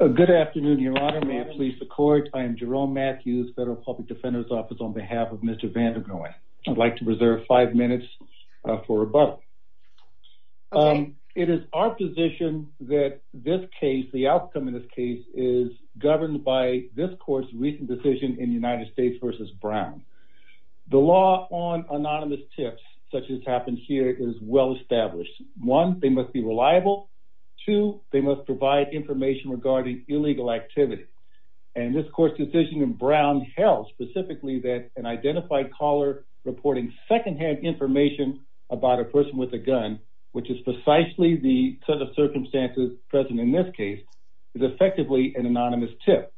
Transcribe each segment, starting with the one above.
Good afternoon, Your Honor. May it please the court. I am Jerome Matthews, Federal Public Defender's Office, on behalf of Mr. Vandergroen. I'd like to reserve five minutes for rebuttal. It is our position that this case, the outcome in this case, is governed by this court's recent decision in United States v. Brown. The law on anonymous tips, such as happened here, is well established. One, they must be reliable. Two, they must provide information regarding illegal activity. And this court's decision in Brown held specifically that an identified caller reporting second-hand information about a person with a gun, which is precisely the set of circumstances present in this case, is effectively an anonymous tip.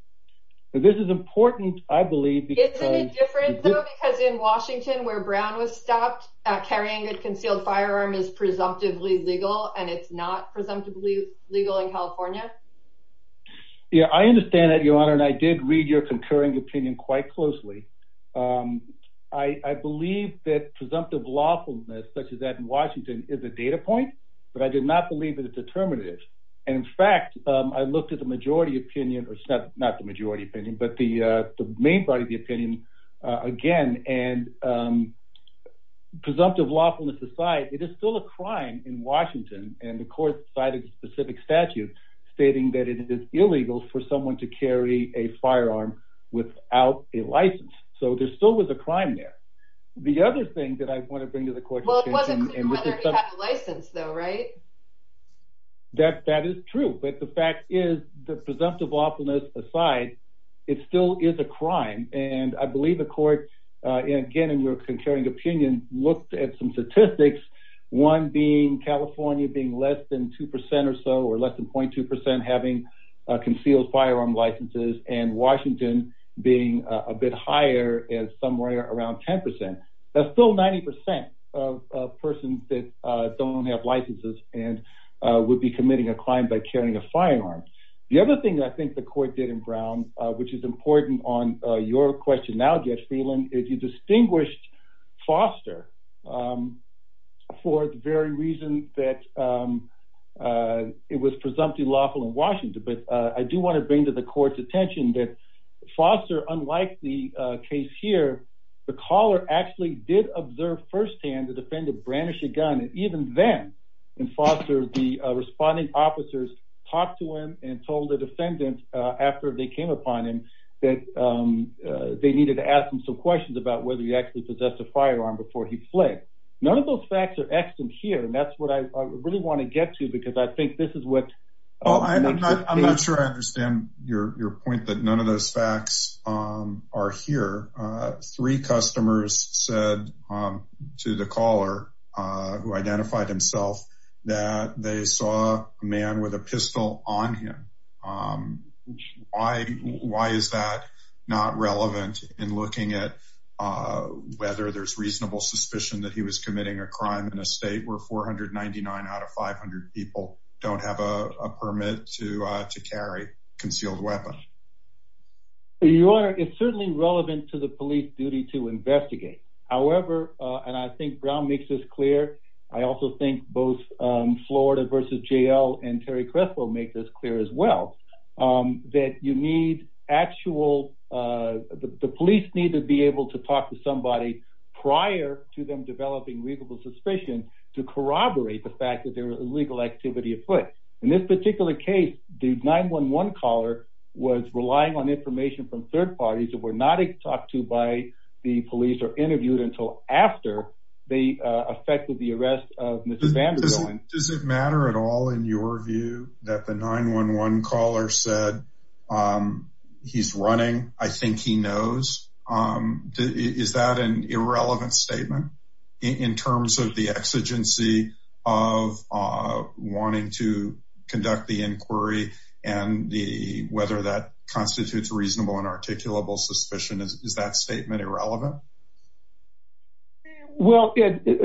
This is important, I believe, because- Isn't it different, though? Because in Washington, where Brown was stopped, carrying a concealed firearm is presumptively legal, and it's not presumptively legal in California? Yeah, I understand that, Your Honor, and I did read your concurring opinion quite closely. I believe that presumptive lawfulness, such as that in Washington, is a data point, but I did not believe that it's determinative. And in fact, I looked at the majority opinion, or not the majority opinion, but the main body of the opinion, again, and presumptive lawfulness aside, it is still a crime in Washington, and the court cited a specific statute stating that it is illegal for someone to carry a firearm without a license. So there still was a crime there. The other thing that I want to bring to the court- Well, it wasn't clear whether he had a license, though, right? That is true, but the fact is, the presumptive lawfulness aside, it still is a crime, and I believe the court, again, in your concurring opinion, looked at some statistics, one being California being less than 2% or so, or less than 0.2%, having concealed firearm licenses, and Washington being a bit higher, at somewhere around 10%. That's still 90% of persons that don't have licenses and would be committing a crime by carrying a firearm. The other thing I think the court did in Brown, which is important on your question now, Jeff Freeland, is you distinguished Foster for the very reason that it was presumptive lawful in Washington. But I do want to bring to the court's attention that Foster, unlike the case here, the caller actually did observe firsthand the defendant brandishing a gun, and even then, in Foster, the defendant, after they came upon him, that they needed to ask him some questions about whether he actually possessed a firearm before he fled. None of those facts are extant here, and that's what I really want to get to, because I think this is what... I'm not sure I understand your point that none of those facts are here. Three customers said to the caller who identified himself, that they saw a man with a pistol on him. Why is that not relevant in looking at whether there's reasonable suspicion that he was committing a crime in a state where 499 out of 500 people don't have a permit to carry a concealed weapon? Your Honor, it's certainly relevant to the police duty to investigate. However, and I think Brown makes this clear, I also think both Florida v. JL and Terry Crespo make this clear as well, that you need actual... The police need to be able to talk to somebody prior to them developing reasonable suspicion to corroborate the fact that there was illegal activity afoot. In this particular case, the 9-1-1 caller was relying on information from third parties who were not talked to by the police or interviewed until after they affected the arrest of Mr. Vanderbilt. Does it matter at all in your view that the 9-1-1 caller said he's running? I think he knows. Is that an irrelevant statement in terms of the exigency of wanting to conduct the inquiry and the whether that constitutes a reasonable and articulable suspicion? Is that statement irrelevant? Well,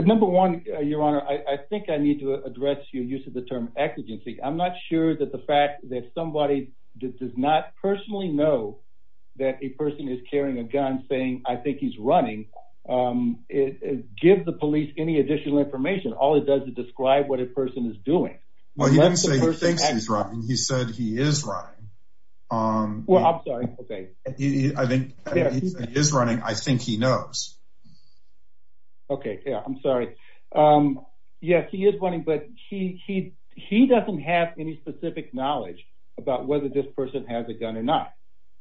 number one, Your Honor, I think I need to address your use of the term exigency. I'm not sure that the fact that somebody that does not personally know that a person is carrying a gun saying, I think he's running, gives the police any additional information. All it does is describe what a person is doing. Well, he didn't say he thinks he's running. He said he is running. Well, I'm sorry. He is running. I think he knows. Okay, yeah, I'm sorry. Yes, he is running, but he doesn't have any specific knowledge about whether this person has a gun or not.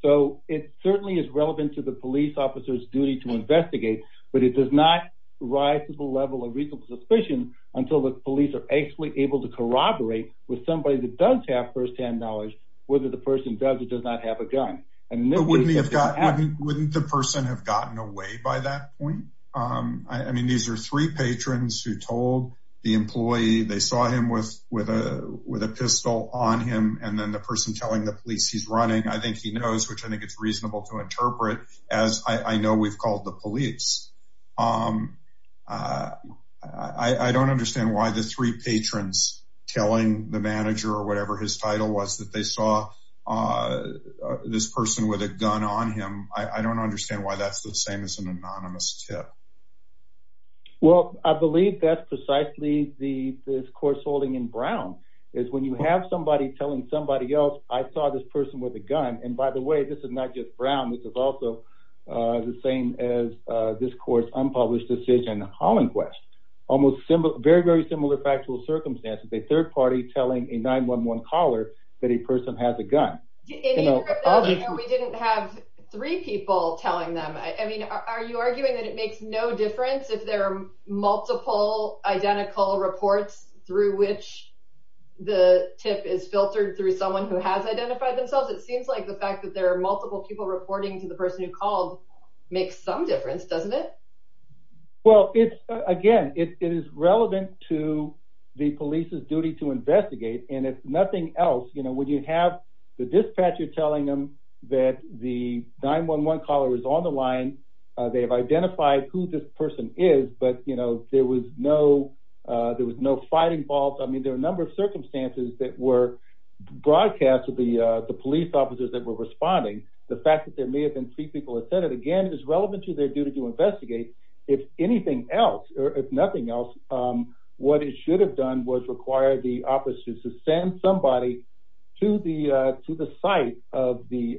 So it certainly is relevant to the police officer's duty to investigate, but it does not rise to the level of reasonable suspicion until the police are actually able to corroborate with somebody that does have first-hand knowledge whether the person does or does not have a gun. But wouldn't the person have gotten away by that point? I mean, these are three patrons who told the employee they saw him with a pistol on him, and then the person telling the police he's running. I think he knows, which I think it's reasonable to interpret, as I know we've called the police. I don't understand why the three patrons telling the manager or whatever his title was that they saw this person with a gun on him. I don't understand why that's the same as an anonymous tip. Well, I believe that's precisely the discourse holding in Brown, is when you have somebody telling somebody else I saw this person with a gun, and by the way, this is not just Brown. This is also the same as this court's unpublished decision, Hollingwest. Almost very, very similar factual circumstances. A third party telling a 9-1-1 caller that a person has a gun. We didn't have three people telling them. I mean, are you arguing that it makes no difference if there are multiple identical reports through which the tip is filtered through someone who has identified themselves? It seems like the fact that there are multiple people reporting to the person who called makes some difference, doesn't it? Well, again, it is relevant to the police's duty to investigate, and if nothing else, you know, when you have the dispatcher telling them that the 9-1-1 caller is on the line, they have identified who this person is, but, you know, there was no fighting involved. I mean, there are a number of circumstances that were broadcast to the police officers that were responding. The fact that there may have been three people who said it, again, it is relevant to their duty to investigate. If anything else, or if nothing else, what it should have done was require the officers to send somebody to the site of the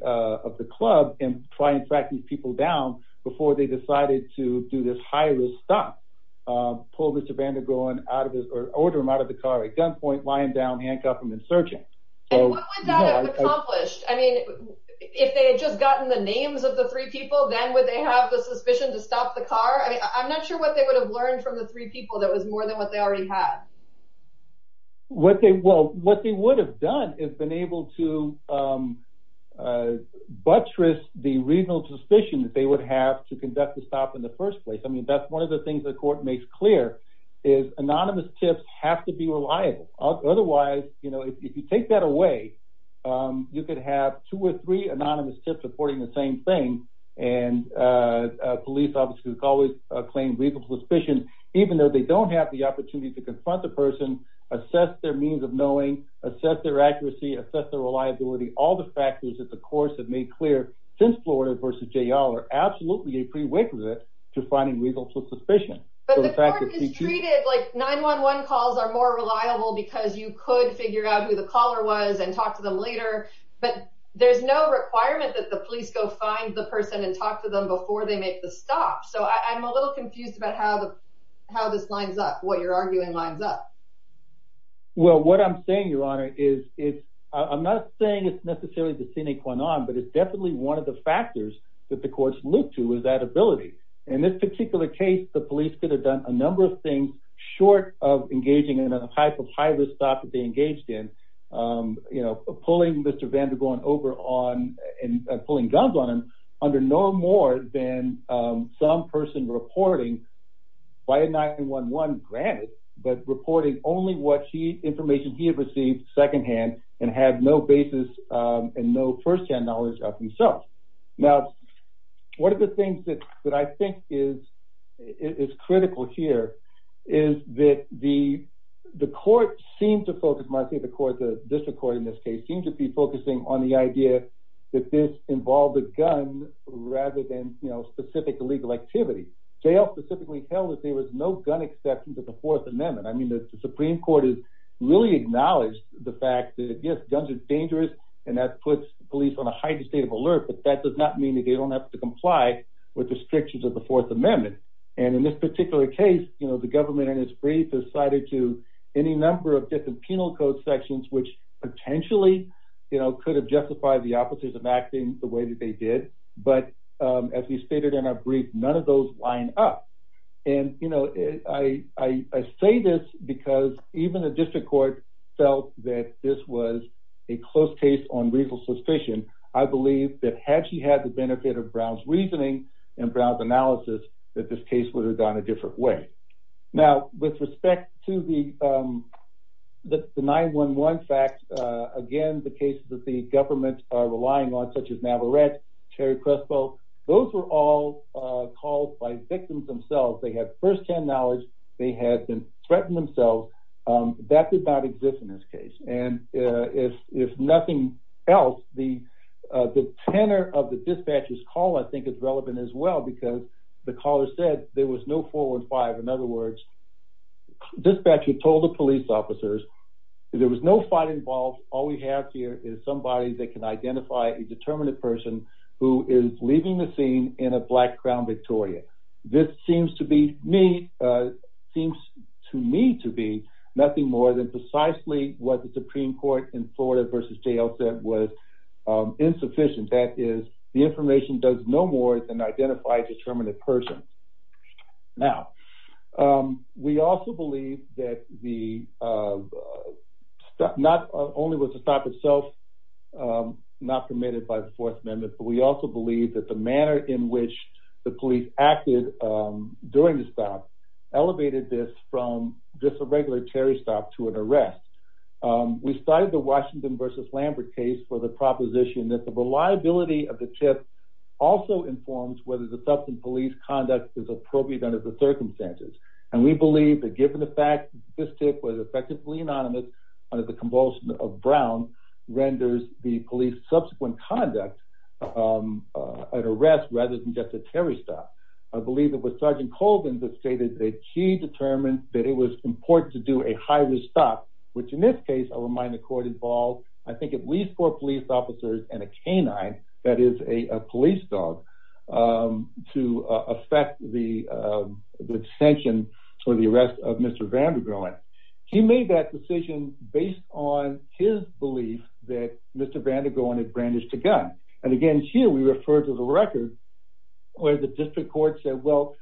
club and try and track these people down before they decided to do this high-risk stop, pull Mr. Van der Groen out of his, or order him out of the car at gunpoint, lying down, handcuffed, and insurgent. And what would that have accomplished? I mean, if they had just gotten the names of the three people, then would they have the suspicion to stop the car? I mean, I'm not sure what they would have learned from the three people that was more than what they already had. Well, what they would have done is been able to buttress the regional suspicion that they would have to conduct the stop in the first place. I mean, that's one of the things the court makes clear, is anonymous tips have to be reliable. Otherwise, you know, if you take that away, you could have two or three anonymous tips reporting the same thing, and police officers always claim regional suspicion, even though they don't have the opportunity to confront the person, assess their means of knowing, assess their accuracy, assess their reliability. All the factors that the courts have made clear since Florida versus J.L. are absolutely a prerequisite to finding regional suspicion. But the court has treated, like, 9-1-1 calls are more reliable because you could figure out who the caller was and talk to them later. But there's no requirement that the police go find the person and talk to them before they make the stop. So I'm a little confused about how this lines up, what you're arguing lines up. Well, what I'm saying, Your Honor, is I'm not saying it's necessarily the sine qua non, but it's definitely one of the factors that the courts look to is that ability. In this particular case, the police could have done a number of things short of engaging in a type of high-risk stop that they engaged in, you know, pulling Mr. Vandergaard over on and pulling guns on him under no more than some person reporting by a 9-1-1, granted, but reporting only what he, information he had received secondhand and had no basis and no first-hand knowledge of himself. Now, one of the things that I think is critical here is that the the court seemed to focus, my favorite court, the district court in this case, seemed to be focusing on the idea that this involved a gun rather than, you know, specific legal activity. Jail specifically held that there was no gun exception to the Fourth Amendment. I mean, the Supreme Court has really acknowledged the fact that, yes, guns are dangerous and that puts police on a heightened state of alert, but that does not mean that they don't have to comply with the strictures of the Fourth Amendment. And in this particular case, you know, the government in its brief has cited to any number of different penal code sections, which potentially, you know, could have justified the officers of acting the way that they did, but as we stated in our brief, none of those line up. And, you know, I say this because even the district court felt that this was a close case on reasonable suspicion. I believe that had she had the benefit of Brown's reasoning and Brown's analysis, that this case would have gone a different way. Now, with respect to the the 9-1-1 fact, again, the cases that the government are relying on, such as Navarrette, Terry Crespo, those were all called by victims themselves. They had first-hand knowledge. They had been threatened themselves. That did not exist in this case. And if nothing else, the tenor of the dispatcher's call, I think, is relevant as well, because the caller said there was no four and five. In other words, dispatcher told the police officers there was no fight involved. All we have here is somebody that can identify a determinate person who is leaving the scene in a black Crown Victoria. This seems to be me, seems to me to be nothing more than precisely what the Supreme Court in Florida v. JL said was insufficient. That is, the information does no more than identify a determinate person. Now, we also believe that the not only was the stop itself not permitted by the Fourth Amendment, but we also believe that the manner in which the police acted during the stop elevated this from just a regular Terry stop to an arrest. We cited the Washington v. Lambert case for the proposition that the reliability of the tip also informs whether the subsequent police conduct is appropriate under the circumstances. And we believe that given the fact this tip was effectively anonymous under the compulsion of Brown renders the police subsequent conduct an arrest rather than just a Terry stop. I believe it was Sergeant Colvin that stated that he determined that it was important to do a high-risk stop, which in this case, I'll remind the court, involves I think at least four police officers and a canine, that is a police dog, to affect the detention or the arrest of Mr. Vandegroen. He made that decision based on his belief that Mr. Vandegroen had brandished a gun. And again, here we refer to the record where the district court said, well,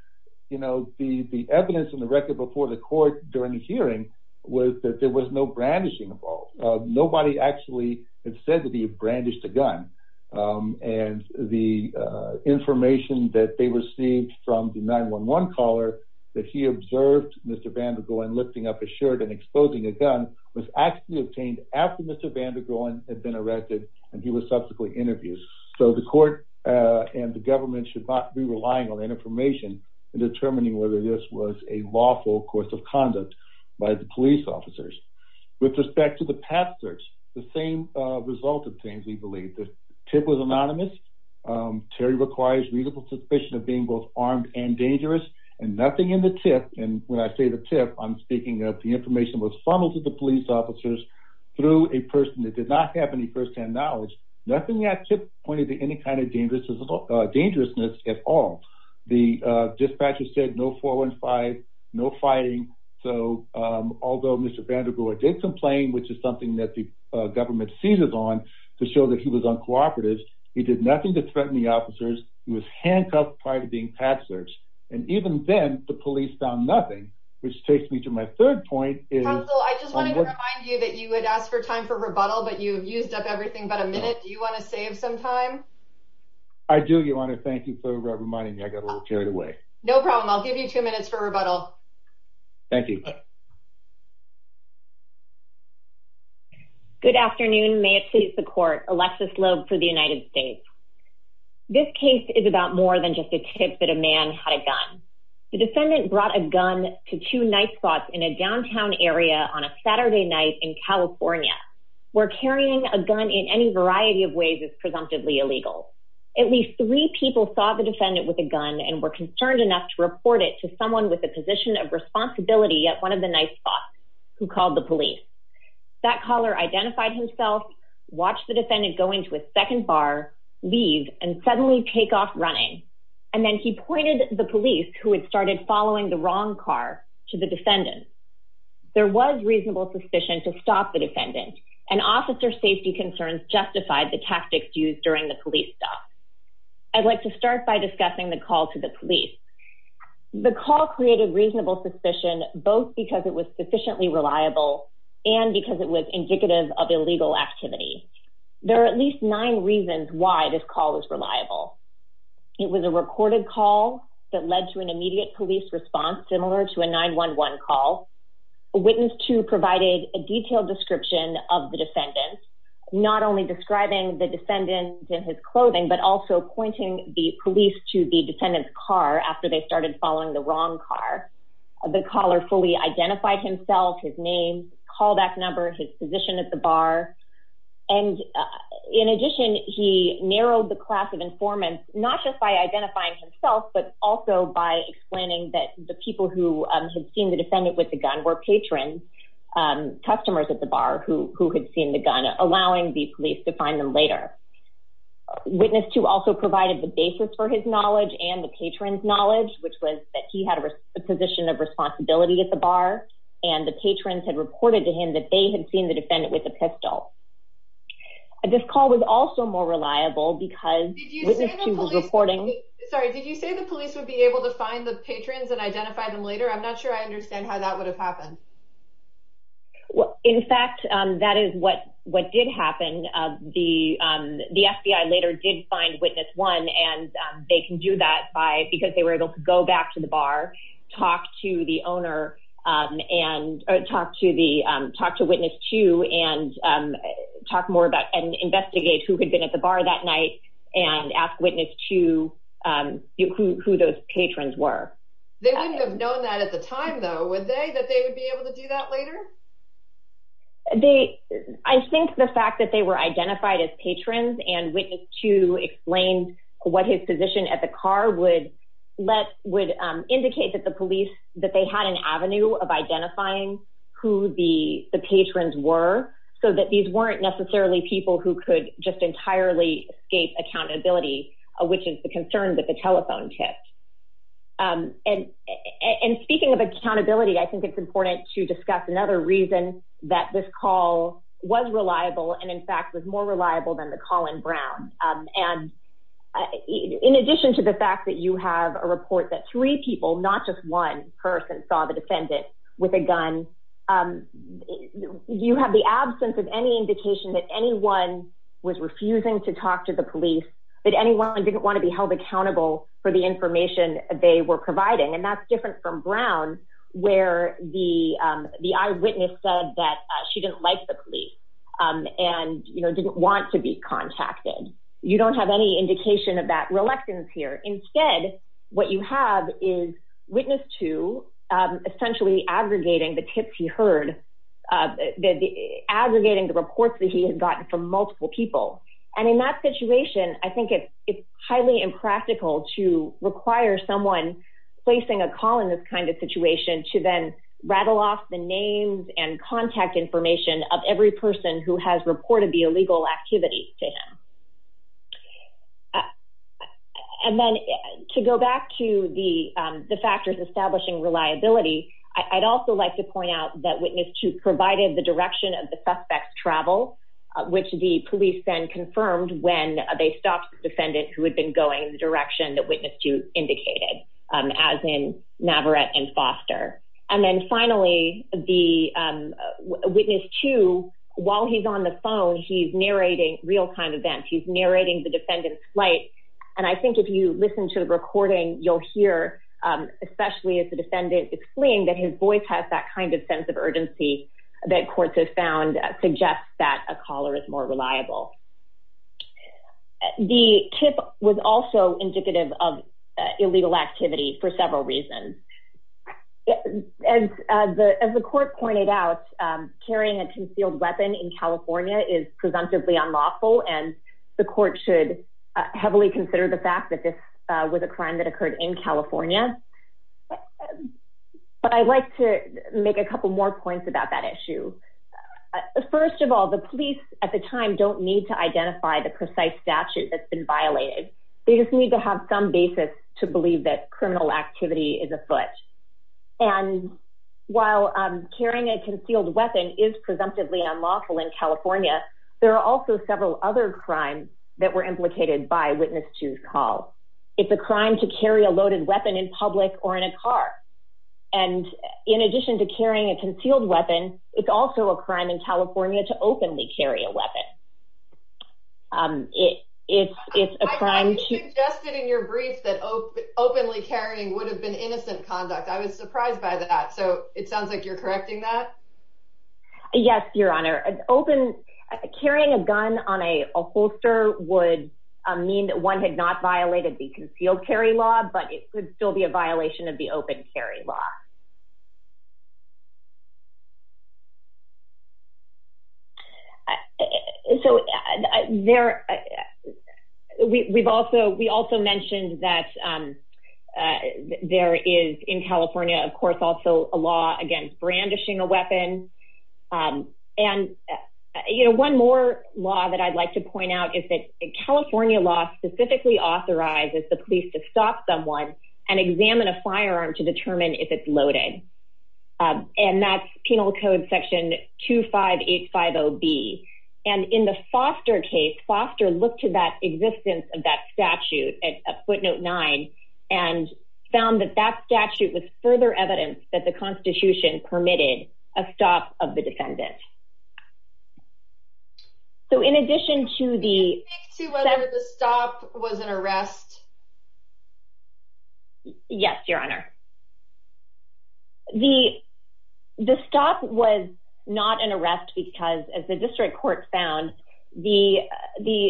you know, the evidence in the record before the court during the hearing was that there was no brandishing at all. Nobody actually had said that he had brandished a gun. And the information that they received from the 9-1-1 caller that he observed Mr. Vandegroen lifting up his shirt and exposing a gun was actually obtained after Mr. Vandegroen had been arrested and he was subsequently interviewed. So the court and the government should not be relying on that information in determining whether this was a lawful course of conduct by the police officers. With respect to the path search, the same result obtained, we believe. The tip was anonymous. Terry requires reasonable suspicion of being both armed and dangerous and nothing in the tip, and when I say the tip, I'm speaking of the information was funneled to the police officers through a person that did not have any firsthand knowledge. Nothing in that tip pointed to any kind of dangerousness at all. The dispatcher said no 415, no fighting. So, although Mr. Vandegroen did complain, which is something that the government seizes on to show that he was uncooperative, he did nothing to threaten the officers. He was handcuffed prior to being path searched. And even then, the police found nothing, which takes me to my third point. Counsel, I just wanted to remind you that you had asked for time for rebuttal, but you've used up everything but a minute. Do you want to save some time? I do, Your Honor. Thank you for reminding me. I got a little carried away. No problem. I'll give you two minutes for rebuttal. Thank you. Good afternoon. May it please the court. Alexis Loeb for the United States. This case is about more than just a tip that a man had a gun. The defendant brought a gun to two night spots in a downtown area on a Saturday night in California, where carrying a gun in any variety of ways is presumptively illegal. At least three people saw the defendant with a gun and were concerned enough to report it to someone with a position of responsibility at one of the night spots who called the police. That caller identified himself, watched the defendant go into a second bar, leave, and suddenly take off running. And then he pointed the police, who had started following the wrong car, to the defendant. There was reasonable suspicion to stop the defendant, and officer safety concerns justified the tactics used during the police stop. I'd like to start by discussing the call to the police. The call created reasonable suspicion, both because it was sufficiently reliable and because it was indicative of illegal activity. There are at least nine reasons why this call is reliable. It was a recorded call that led to an immediate police response, similar to a 911 call. A witness, too, provided a detailed description of the defendant, not only describing the defendant in his clothing, but also pointing the police to the defendant's car after they started following the wrong car. The caller fully identified himself, his name, callback number, his position at the bar. And in addition, he narrowed the class of informants, not just by identifying himself, but also by explaining that the people who had seen the defendant with the gun were patrons, customers at the bar who had seen the gun, allowing the police to find them later. A witness, too, also provided the basis for his knowledge and the patrons' knowledge, which was that he had a position of responsibility at the bar, and the patrons had reported to him that they had seen the defendant with a pistol. This call was also more reliable because the witness, too, was reporting... Sorry, did you say the police would be able to find the patrons and identify them later? I'm not sure I understand how that would have happened. Well, in fact, that is what did happen. The FBI later did find witness one, and they can do that because they were able to go back to the bar, talk to the owner, talk to witness two, and talk more about and investigate who had been at the bar that night and ask witness two who those patrons were. They wouldn't have known that at the time, though, would they, that they would be able to do that later? I think the fact that they were identified as patrons and witness two explained what his position at the car would indicate that the police, that they had an avenue of identifying who the patrons were, so that these weren't necessarily people who could just entirely escape accountability, which is the concern that the telephone tipped. And speaking of accountability, I think it's important to discuss another reason that this call was reliable and, in fact, was more reliable than the call in Brown. And in addition to the fact that you have a report that three people, not just one person, saw the defendant with a gun, you have the absence of any indication that anyone was refusing to talk to the police, that anyone didn't want to be held accountable for the information they were providing. And that's different from Brown, where the eyewitness said that she didn't like the police and, you know, didn't want to be contacted. You don't have any indication of that reluctance here. Instead, what you have is witness two essentially aggregating the tips he heard, aggregating the reports that he had gotten from multiple people. And in that situation, I think it's highly impractical to require someone placing a call in this kind of situation to then rattle off the names and contact information of every person who has reported the illegal activities to him. And then to go back to the factors establishing reliability, I'd also like to point out that witness two provided the direction of the suspect's travel, which the police then confirmed when they stopped the defendant who had been going in the direction that witness two indicated, as in Navarette and Foster. And then finally, the narrating the defendant's flight. And I think if you listen to the recording, you'll hear, especially if the defendant is fleeing, that his voice has that kind of sense of urgency that courts have found suggests that a caller is more reliable. The tip was also indicative of illegal activity for several reasons. As the court pointed out, carrying a concealed weapon in California is presumptively unlawful, and the court should heavily consider the fact that this was a crime that occurred in California. But I'd like to make a couple more points about that issue. First of all, the police at the time don't need to identify the precise statute that's been violated. They just need to have some basis to believe that criminal activity is afoot. And while carrying a concealed weapon is presumptively unlawful in California, there are also several other crimes that were implicated by witness two's call. It's a crime to carry a loaded weapon in public or in a car. And in addition to carrying a concealed weapon, it's also a crime in California to openly carry a weapon. If it's a crime to Just in your brief that openly carrying would have been innocent conduct. I was surprised by that. So it sounds like you're correcting that Yes, Your Honor, an open carrying a gun on a holster would mean that one had not violated the concealed carry law, but it would still be a violation of the open carry law. So there We've also we also mentioned that There is in California, of course, also a law against brandishing a weapon. And, you know, one more law that I'd like to point out is that California law specifically authorizes the police to stop someone and examine a firearm to determine if it's loaded. And that's Penal Code section 25850B. And in the Foster case, Foster looked to that existence of that statute at footnote nine and found that that statute was further evidence that the Constitution permitted a stop of the defendant. So in addition to the Stop was an arrest. Yes, Your Honor. The stop was not an arrest because as the district court found the the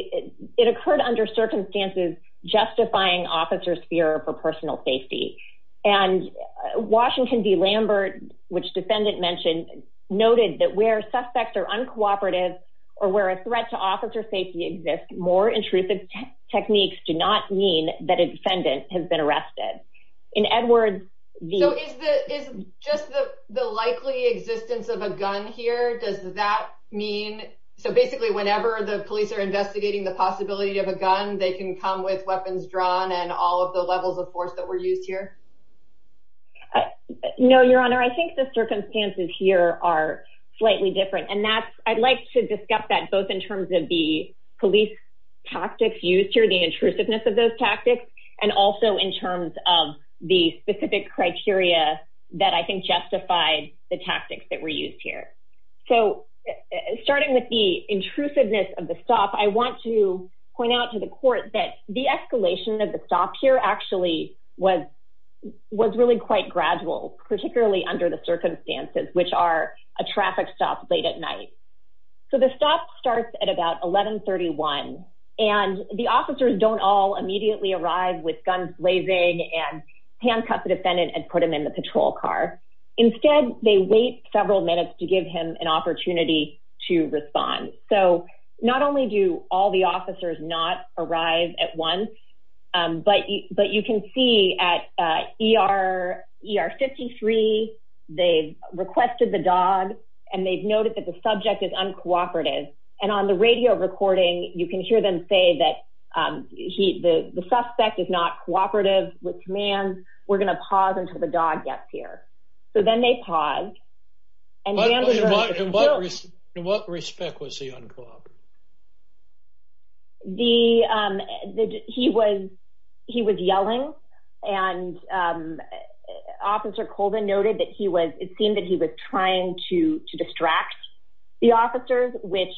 it occurred under circumstances justifying officers fear for personal safety. And Washington v. Lambert, which defendant mentioned noted that where suspects are uncooperative or where a threat to officer safety exists more intrusive techniques do not mean that a defendant has been arrested. In Edwards So is the is just the the likely existence of a gun here. Does that mean so basically whenever the police are investigating the possibility of a gun. They can come with weapons drawn and all of the levels of force that were used here. No, Your Honor. I think the circumstances here are slightly different. And that's, I'd like to discuss that both in terms of the police. tactics used here the intrusiveness of those tactics and also in terms of the specific criteria that I think justified the tactics that were used here so Starting with the intrusiveness of the stop. I want to point out to the court that the escalation of the stock here actually was Was really quite gradual, particularly under the circumstances which are a traffic stop late at night. So the stop starts at about 1131 and the officers don't all immediately arrive with guns blazing and handcuff the defendant and put them in the patrol car. Instead, they wait several minutes to give him an opportunity to respond. So not only do all the officers not arrive at one But, but you can see at ER 53 they requested the dog and they've noticed that the subject is uncooperative and on the radio recording. You can hear them say that He, the suspect is not cooperative with commands. We're going to pause until the dog gets here. So then they pause and In what respect was he uncooperative? The, the, he was he was yelling and Officer cold and noted that he was it seemed that he was trying to to distract the officers, which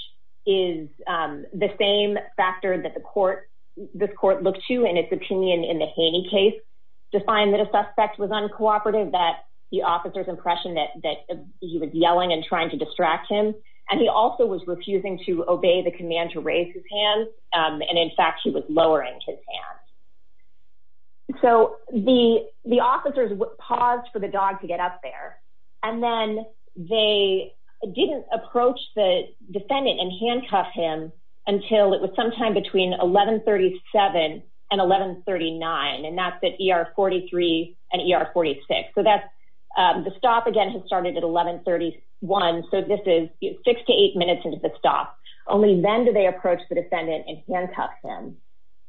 is The same factor that the court this court look to and it's opinion in the Haney case to find that a suspect was uncooperative that the officers impression that that He was yelling and trying to distract him. And he also was refusing to obey the command to raise his hand. And in fact, he was lowering his hand. So the, the officers would pause for the dog to get up there and then they didn't approach the defendant and handcuff him until it was sometime between 1137 and 1139 and that's the ER 43 and 46 so that's The stop again has started at 1131 so this is six to eight minutes into the stop only then do they approach the defendant and handcuff him.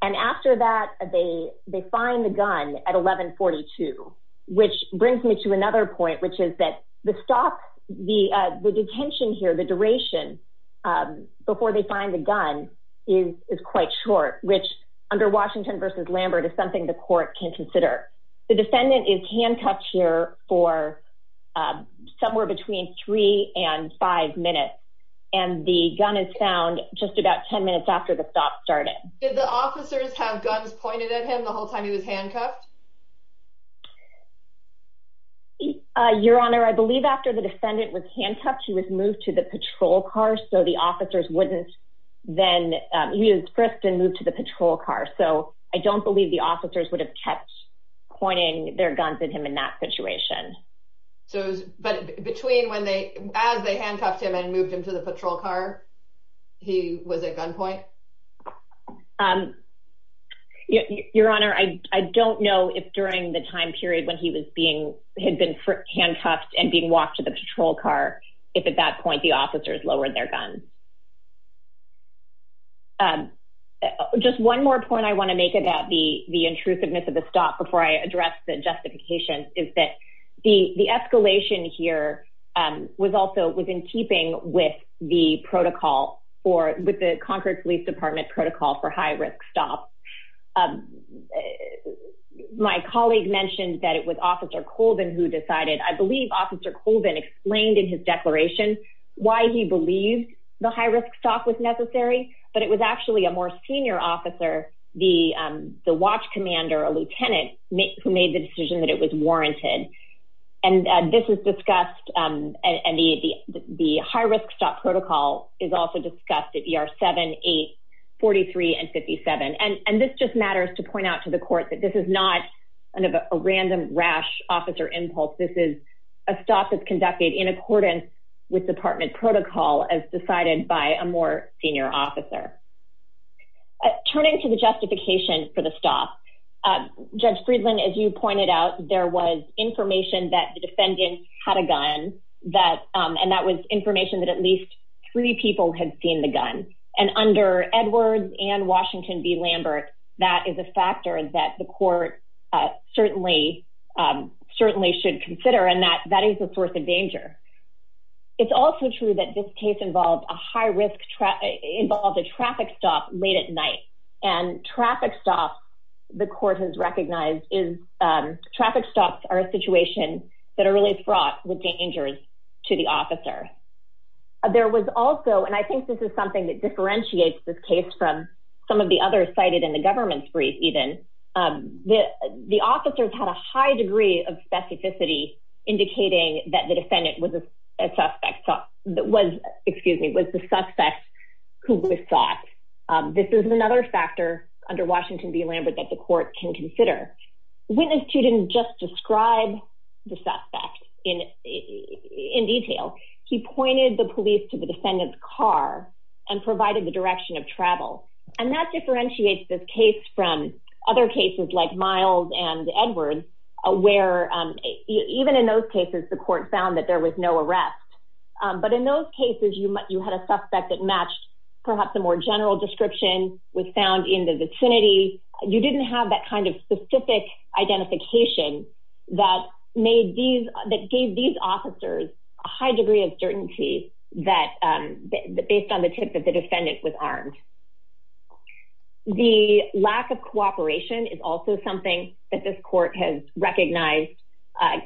And after that they they find the gun at 1142 which brings me to another point, which is that the stop the the detention here the duration Before they find the gun is quite short, which under Washington versus Lambert is something the court can consider the defendant is handcuffed here for Somewhere between three and five minutes and the gun is found just about 10 minutes after the stop started the officers have guns pointed at him the whole time he was handcuffed. Your Honor, I believe after the defendant was handcuffed. He was moved to the patrol car. So the officers wouldn't then he is first and move to the patrol car. So I don't believe the officers would have kept pointing their guns at him in that situation. So, but between when they as they handcuffed him and moved him to the patrol car. He was a gunpoint. Your Honor, I don't know if during the time period when he was being had been handcuffed and being walked to the patrol car. If at that point, the officers lowered their guns. And just one more point I want to make it that the the intrusiveness of the stop before I address the justification is that the the escalation here. Was also within keeping with the protocol or with the Concord Police Department protocol for high risk stop My colleague mentioned that it was officer Colvin who decided I believe officer Colvin explained in his declaration. Why he believed the high risk stop was necessary, but it was actually a more senior officer, the watch commander, a lieutenant make who made the decision that it was warranted. And this is discussed and the, the, the high risk stop protocol is also discussed at your seven 843 and 57 and and this just matters to point out to the court that this is not A random rash officer impulse. This is a stop that's conducted in accordance with department protocol as decided by a more senior officer. Turning to the justification for the stop judge Friedland, as you pointed out, there was information that the defendant had a gun that and that was information that at least Three people had seen the gun and under Edwards and Washington be Lambert. That is a factor that the court certainly certainly should consider and that that is the source of danger. It's also true that this case involved a high risk traffic involved a traffic stop late at night and traffic stop the court has recognized is Traffic stops are a situation that are really fraught with dangers to the officer. There was also. And I think this is something that differentiates this case from some of the other cited in the government's brief even The, the officers had a high degree of specificity, indicating that the defendant was a suspect. So that was, excuse me, was the suspect. Who was thought this is another factor under Washington be Lambert that the court can consider when a student just describe the suspect in In detail, he pointed the police to the defendant car and provided the direction of travel and that differentiates this case from other cases like miles and Edwards aware Even in those cases, the court found that there was no arrest. But in those cases, you might you had a suspect that matched. Perhaps a more general description was found in the vicinity. You didn't have that kind of specific identification that made these that gave these officers high degree of certainty that based on the tip of the defendant with arms. The lack of cooperation is also something that this court has recognized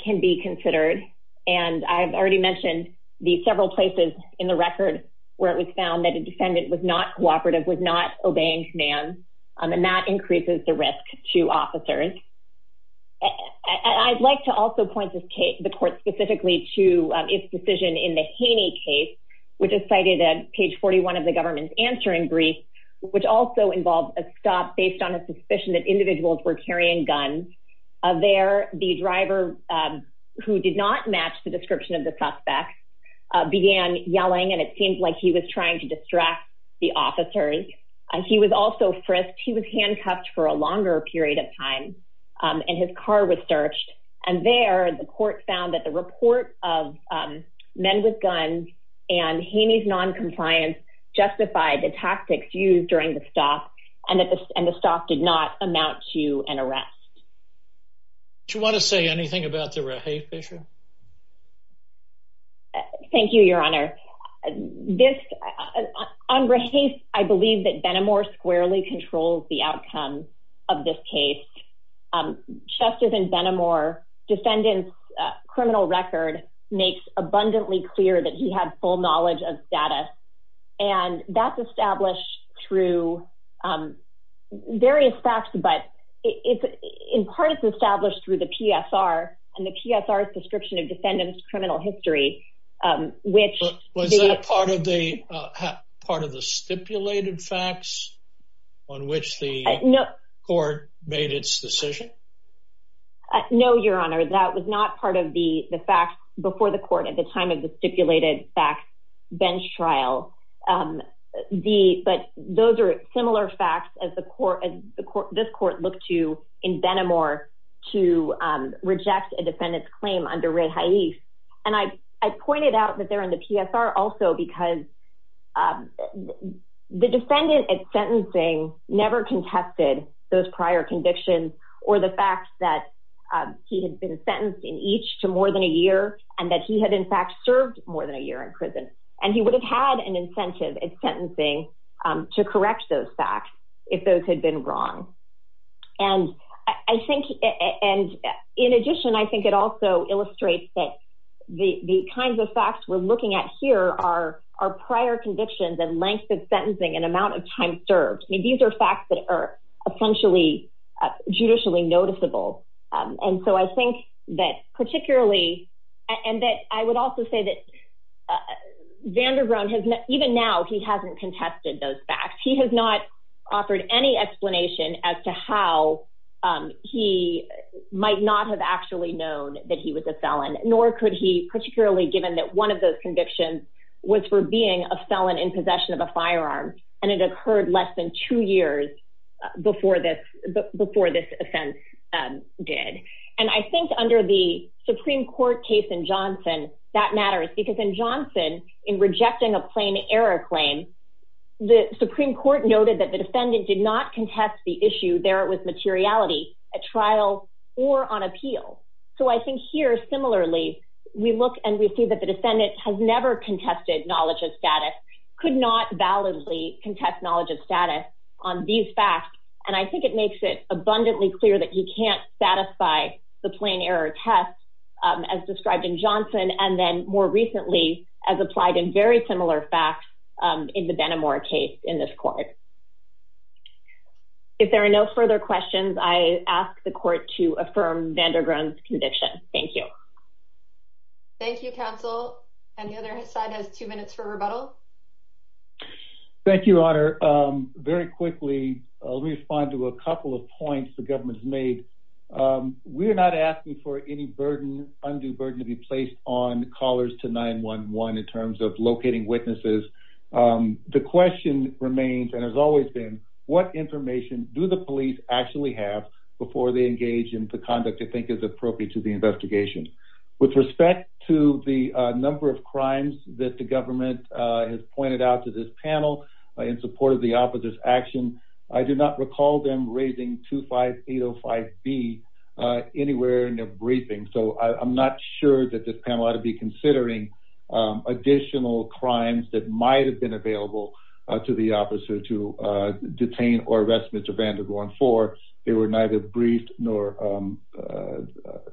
can be considered and I've already mentioned the several places in the record where it was found that a defendant was not cooperative was not obeying command on the mat increases the risk to officers. And I'd like to also point this case, the court specifically to its decision in the Haney case, which is cited at page 41 of the government's answering brief, which also involves a stop based on a suspicion that individuals were carrying guns. There the driver who did not match the description of the suspect began yelling and it seems like he was trying to distract the officers and he was also frisked he was handcuffed for a longer period of time. And his car was searched and they are the court found that the report of men with guns and Haney's non compliance justified the tactics used during the stop and that this and the stock did not amount to an arrest. To want to say anything about the right. Hey, Fisher. Thank you, Your Honor. This I'm ready. I believe that Benamor squarely controls the outcome of this case. Just as in Benamor defendants criminal record makes abundantly clear that he had full knowledge of data and that's established through Various facts, but it's in part is established through the PSR and the PSR description of defendants criminal history, which Was a part of the part of the stipulated facts on which the court made its decision. No, Your Honor. That was not part of the the fact before the court at the time of the stipulated back bench trial. The, but those are similar facts as the court and the court this court look to in Benamor to reject a defendant's claim under rate Heidi and I, I pointed out that they're in the PSR also because The defendant at sentencing never contested those prior convictions or the fact that He had been sentenced in each to more than a year and that he had in fact served more than a year in prison and he would have had an incentive and sentencing. To correct those facts. If those had been wrong. And I think. And in addition, I think it also illustrates that The, the kinds of facts we're looking at here are our prior convictions and length of sentencing and amount of time served me. These are facts that are essentially judicially noticeable. And so I think that particularly and that I would also say that Vanderbilt has even now he hasn't contested those facts. He has not offered any explanation as to how He might not have actually known that he was a felon, nor could he particularly given that one of those convictions. Was for being a felon in possession of a firearm and it occurred less than two years before this before this offense. Did and I think under the Supreme Court case in Johnson that matters because in Johnson in rejecting a plain error claim. The Supreme Court noted that the defendant did not contest the issue there. It was materiality at trial or on appeal. So I think here. Similarly, We look and we see that the defendant has never contested knowledge of status could not validly contest knowledge of status on these facts and I think it makes it abundantly clear that you can't satisfy the plain error test. As described in Johnson and then more recently as applied in very similar facts in the Benamor case in this court. If there are no further questions I asked the court to affirm Vanderbilt's conviction. Thank you. Thank you counsel and the other side has two minutes for rebuttal. Thank you, Honor. Very quickly, I'll respond to a couple of points the government's made. We're not asking for any burden undue burden to be placed on callers to 911 in terms of locating witnesses. The question remains and has always been what information do the police actually have before they engage in the conduct to think is appropriate to the investigation. With respect to the number of crimes that the government has pointed out to this panel in support of the opposite action. I do not recall them raising 25805B Anywhere in their briefing. So I'm not sure that this panel ought to be considering additional crimes that might have been available to the officer to detain or arrest Mr. Vanderbilt for they were neither briefed nor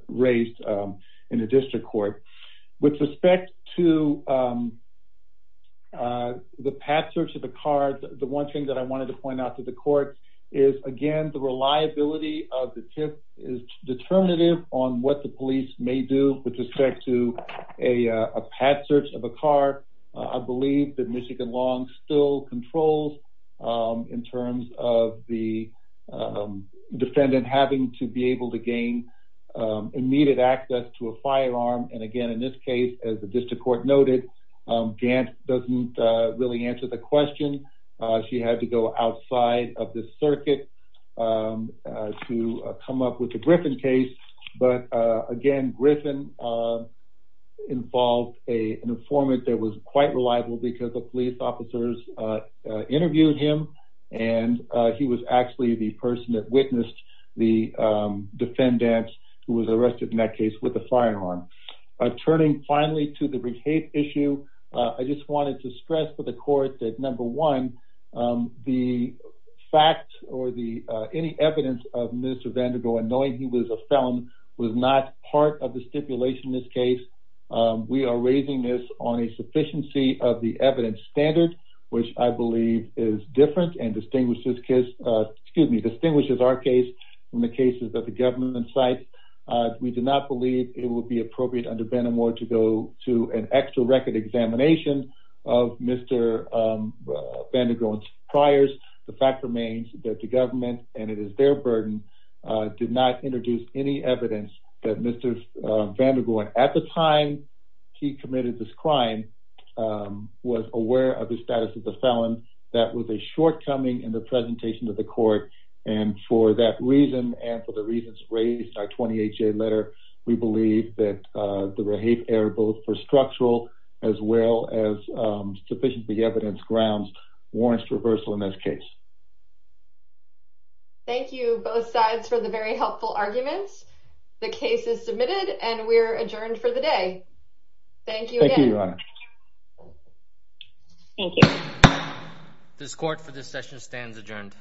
Raised in the district court with respect to The path search of the car. The one thing that I wanted to point out to the court is again the reliability of the tip is determinative on what the police may do with respect to a path search of a car. I believe that Michigan long still controls in terms of the Immediate access to a firearm. And again, in this case as the district court noted Gant doesn't really answer the question. She had to go outside of the circuit. To come up with the Griffin case. But again, Griffin. Involved a an informant that was quite reliable because the police officers interviewed him and he was actually the person that witnessed the Defendant who was arrested in that case with a firearm. Turning finally to the brief hate issue. I just wanted to stress for the court that number one. The fact or the any evidence of Mr Vanderbilt and knowing he was a felon was not part of the stipulation. This case. We are raising this on a sufficiency of the evidence standard, which I believe is different and distinguishes kiss. Excuse me, distinguishes our case in the cases that the government site. We do not believe it will be appropriate under better more to go to an extra record examination of Mr. Vanderbilt priors. The fact remains that the government and it is their burden did not introduce any evidence that Mr Vanderbilt at the time he committed this crime. Was aware of the status of the felon. That was a shortcoming in the presentation to the court and for that reason. And for the reasons raised our 28 day letter. We believe that the repeat air both for structural as well as sufficient the evidence grounds warrants reversal in this case. Thank you both sides for the very helpful arguments. The case is submitted and we're adjourned for the day. Thank you. Thank you. This court for this session stands adjourned.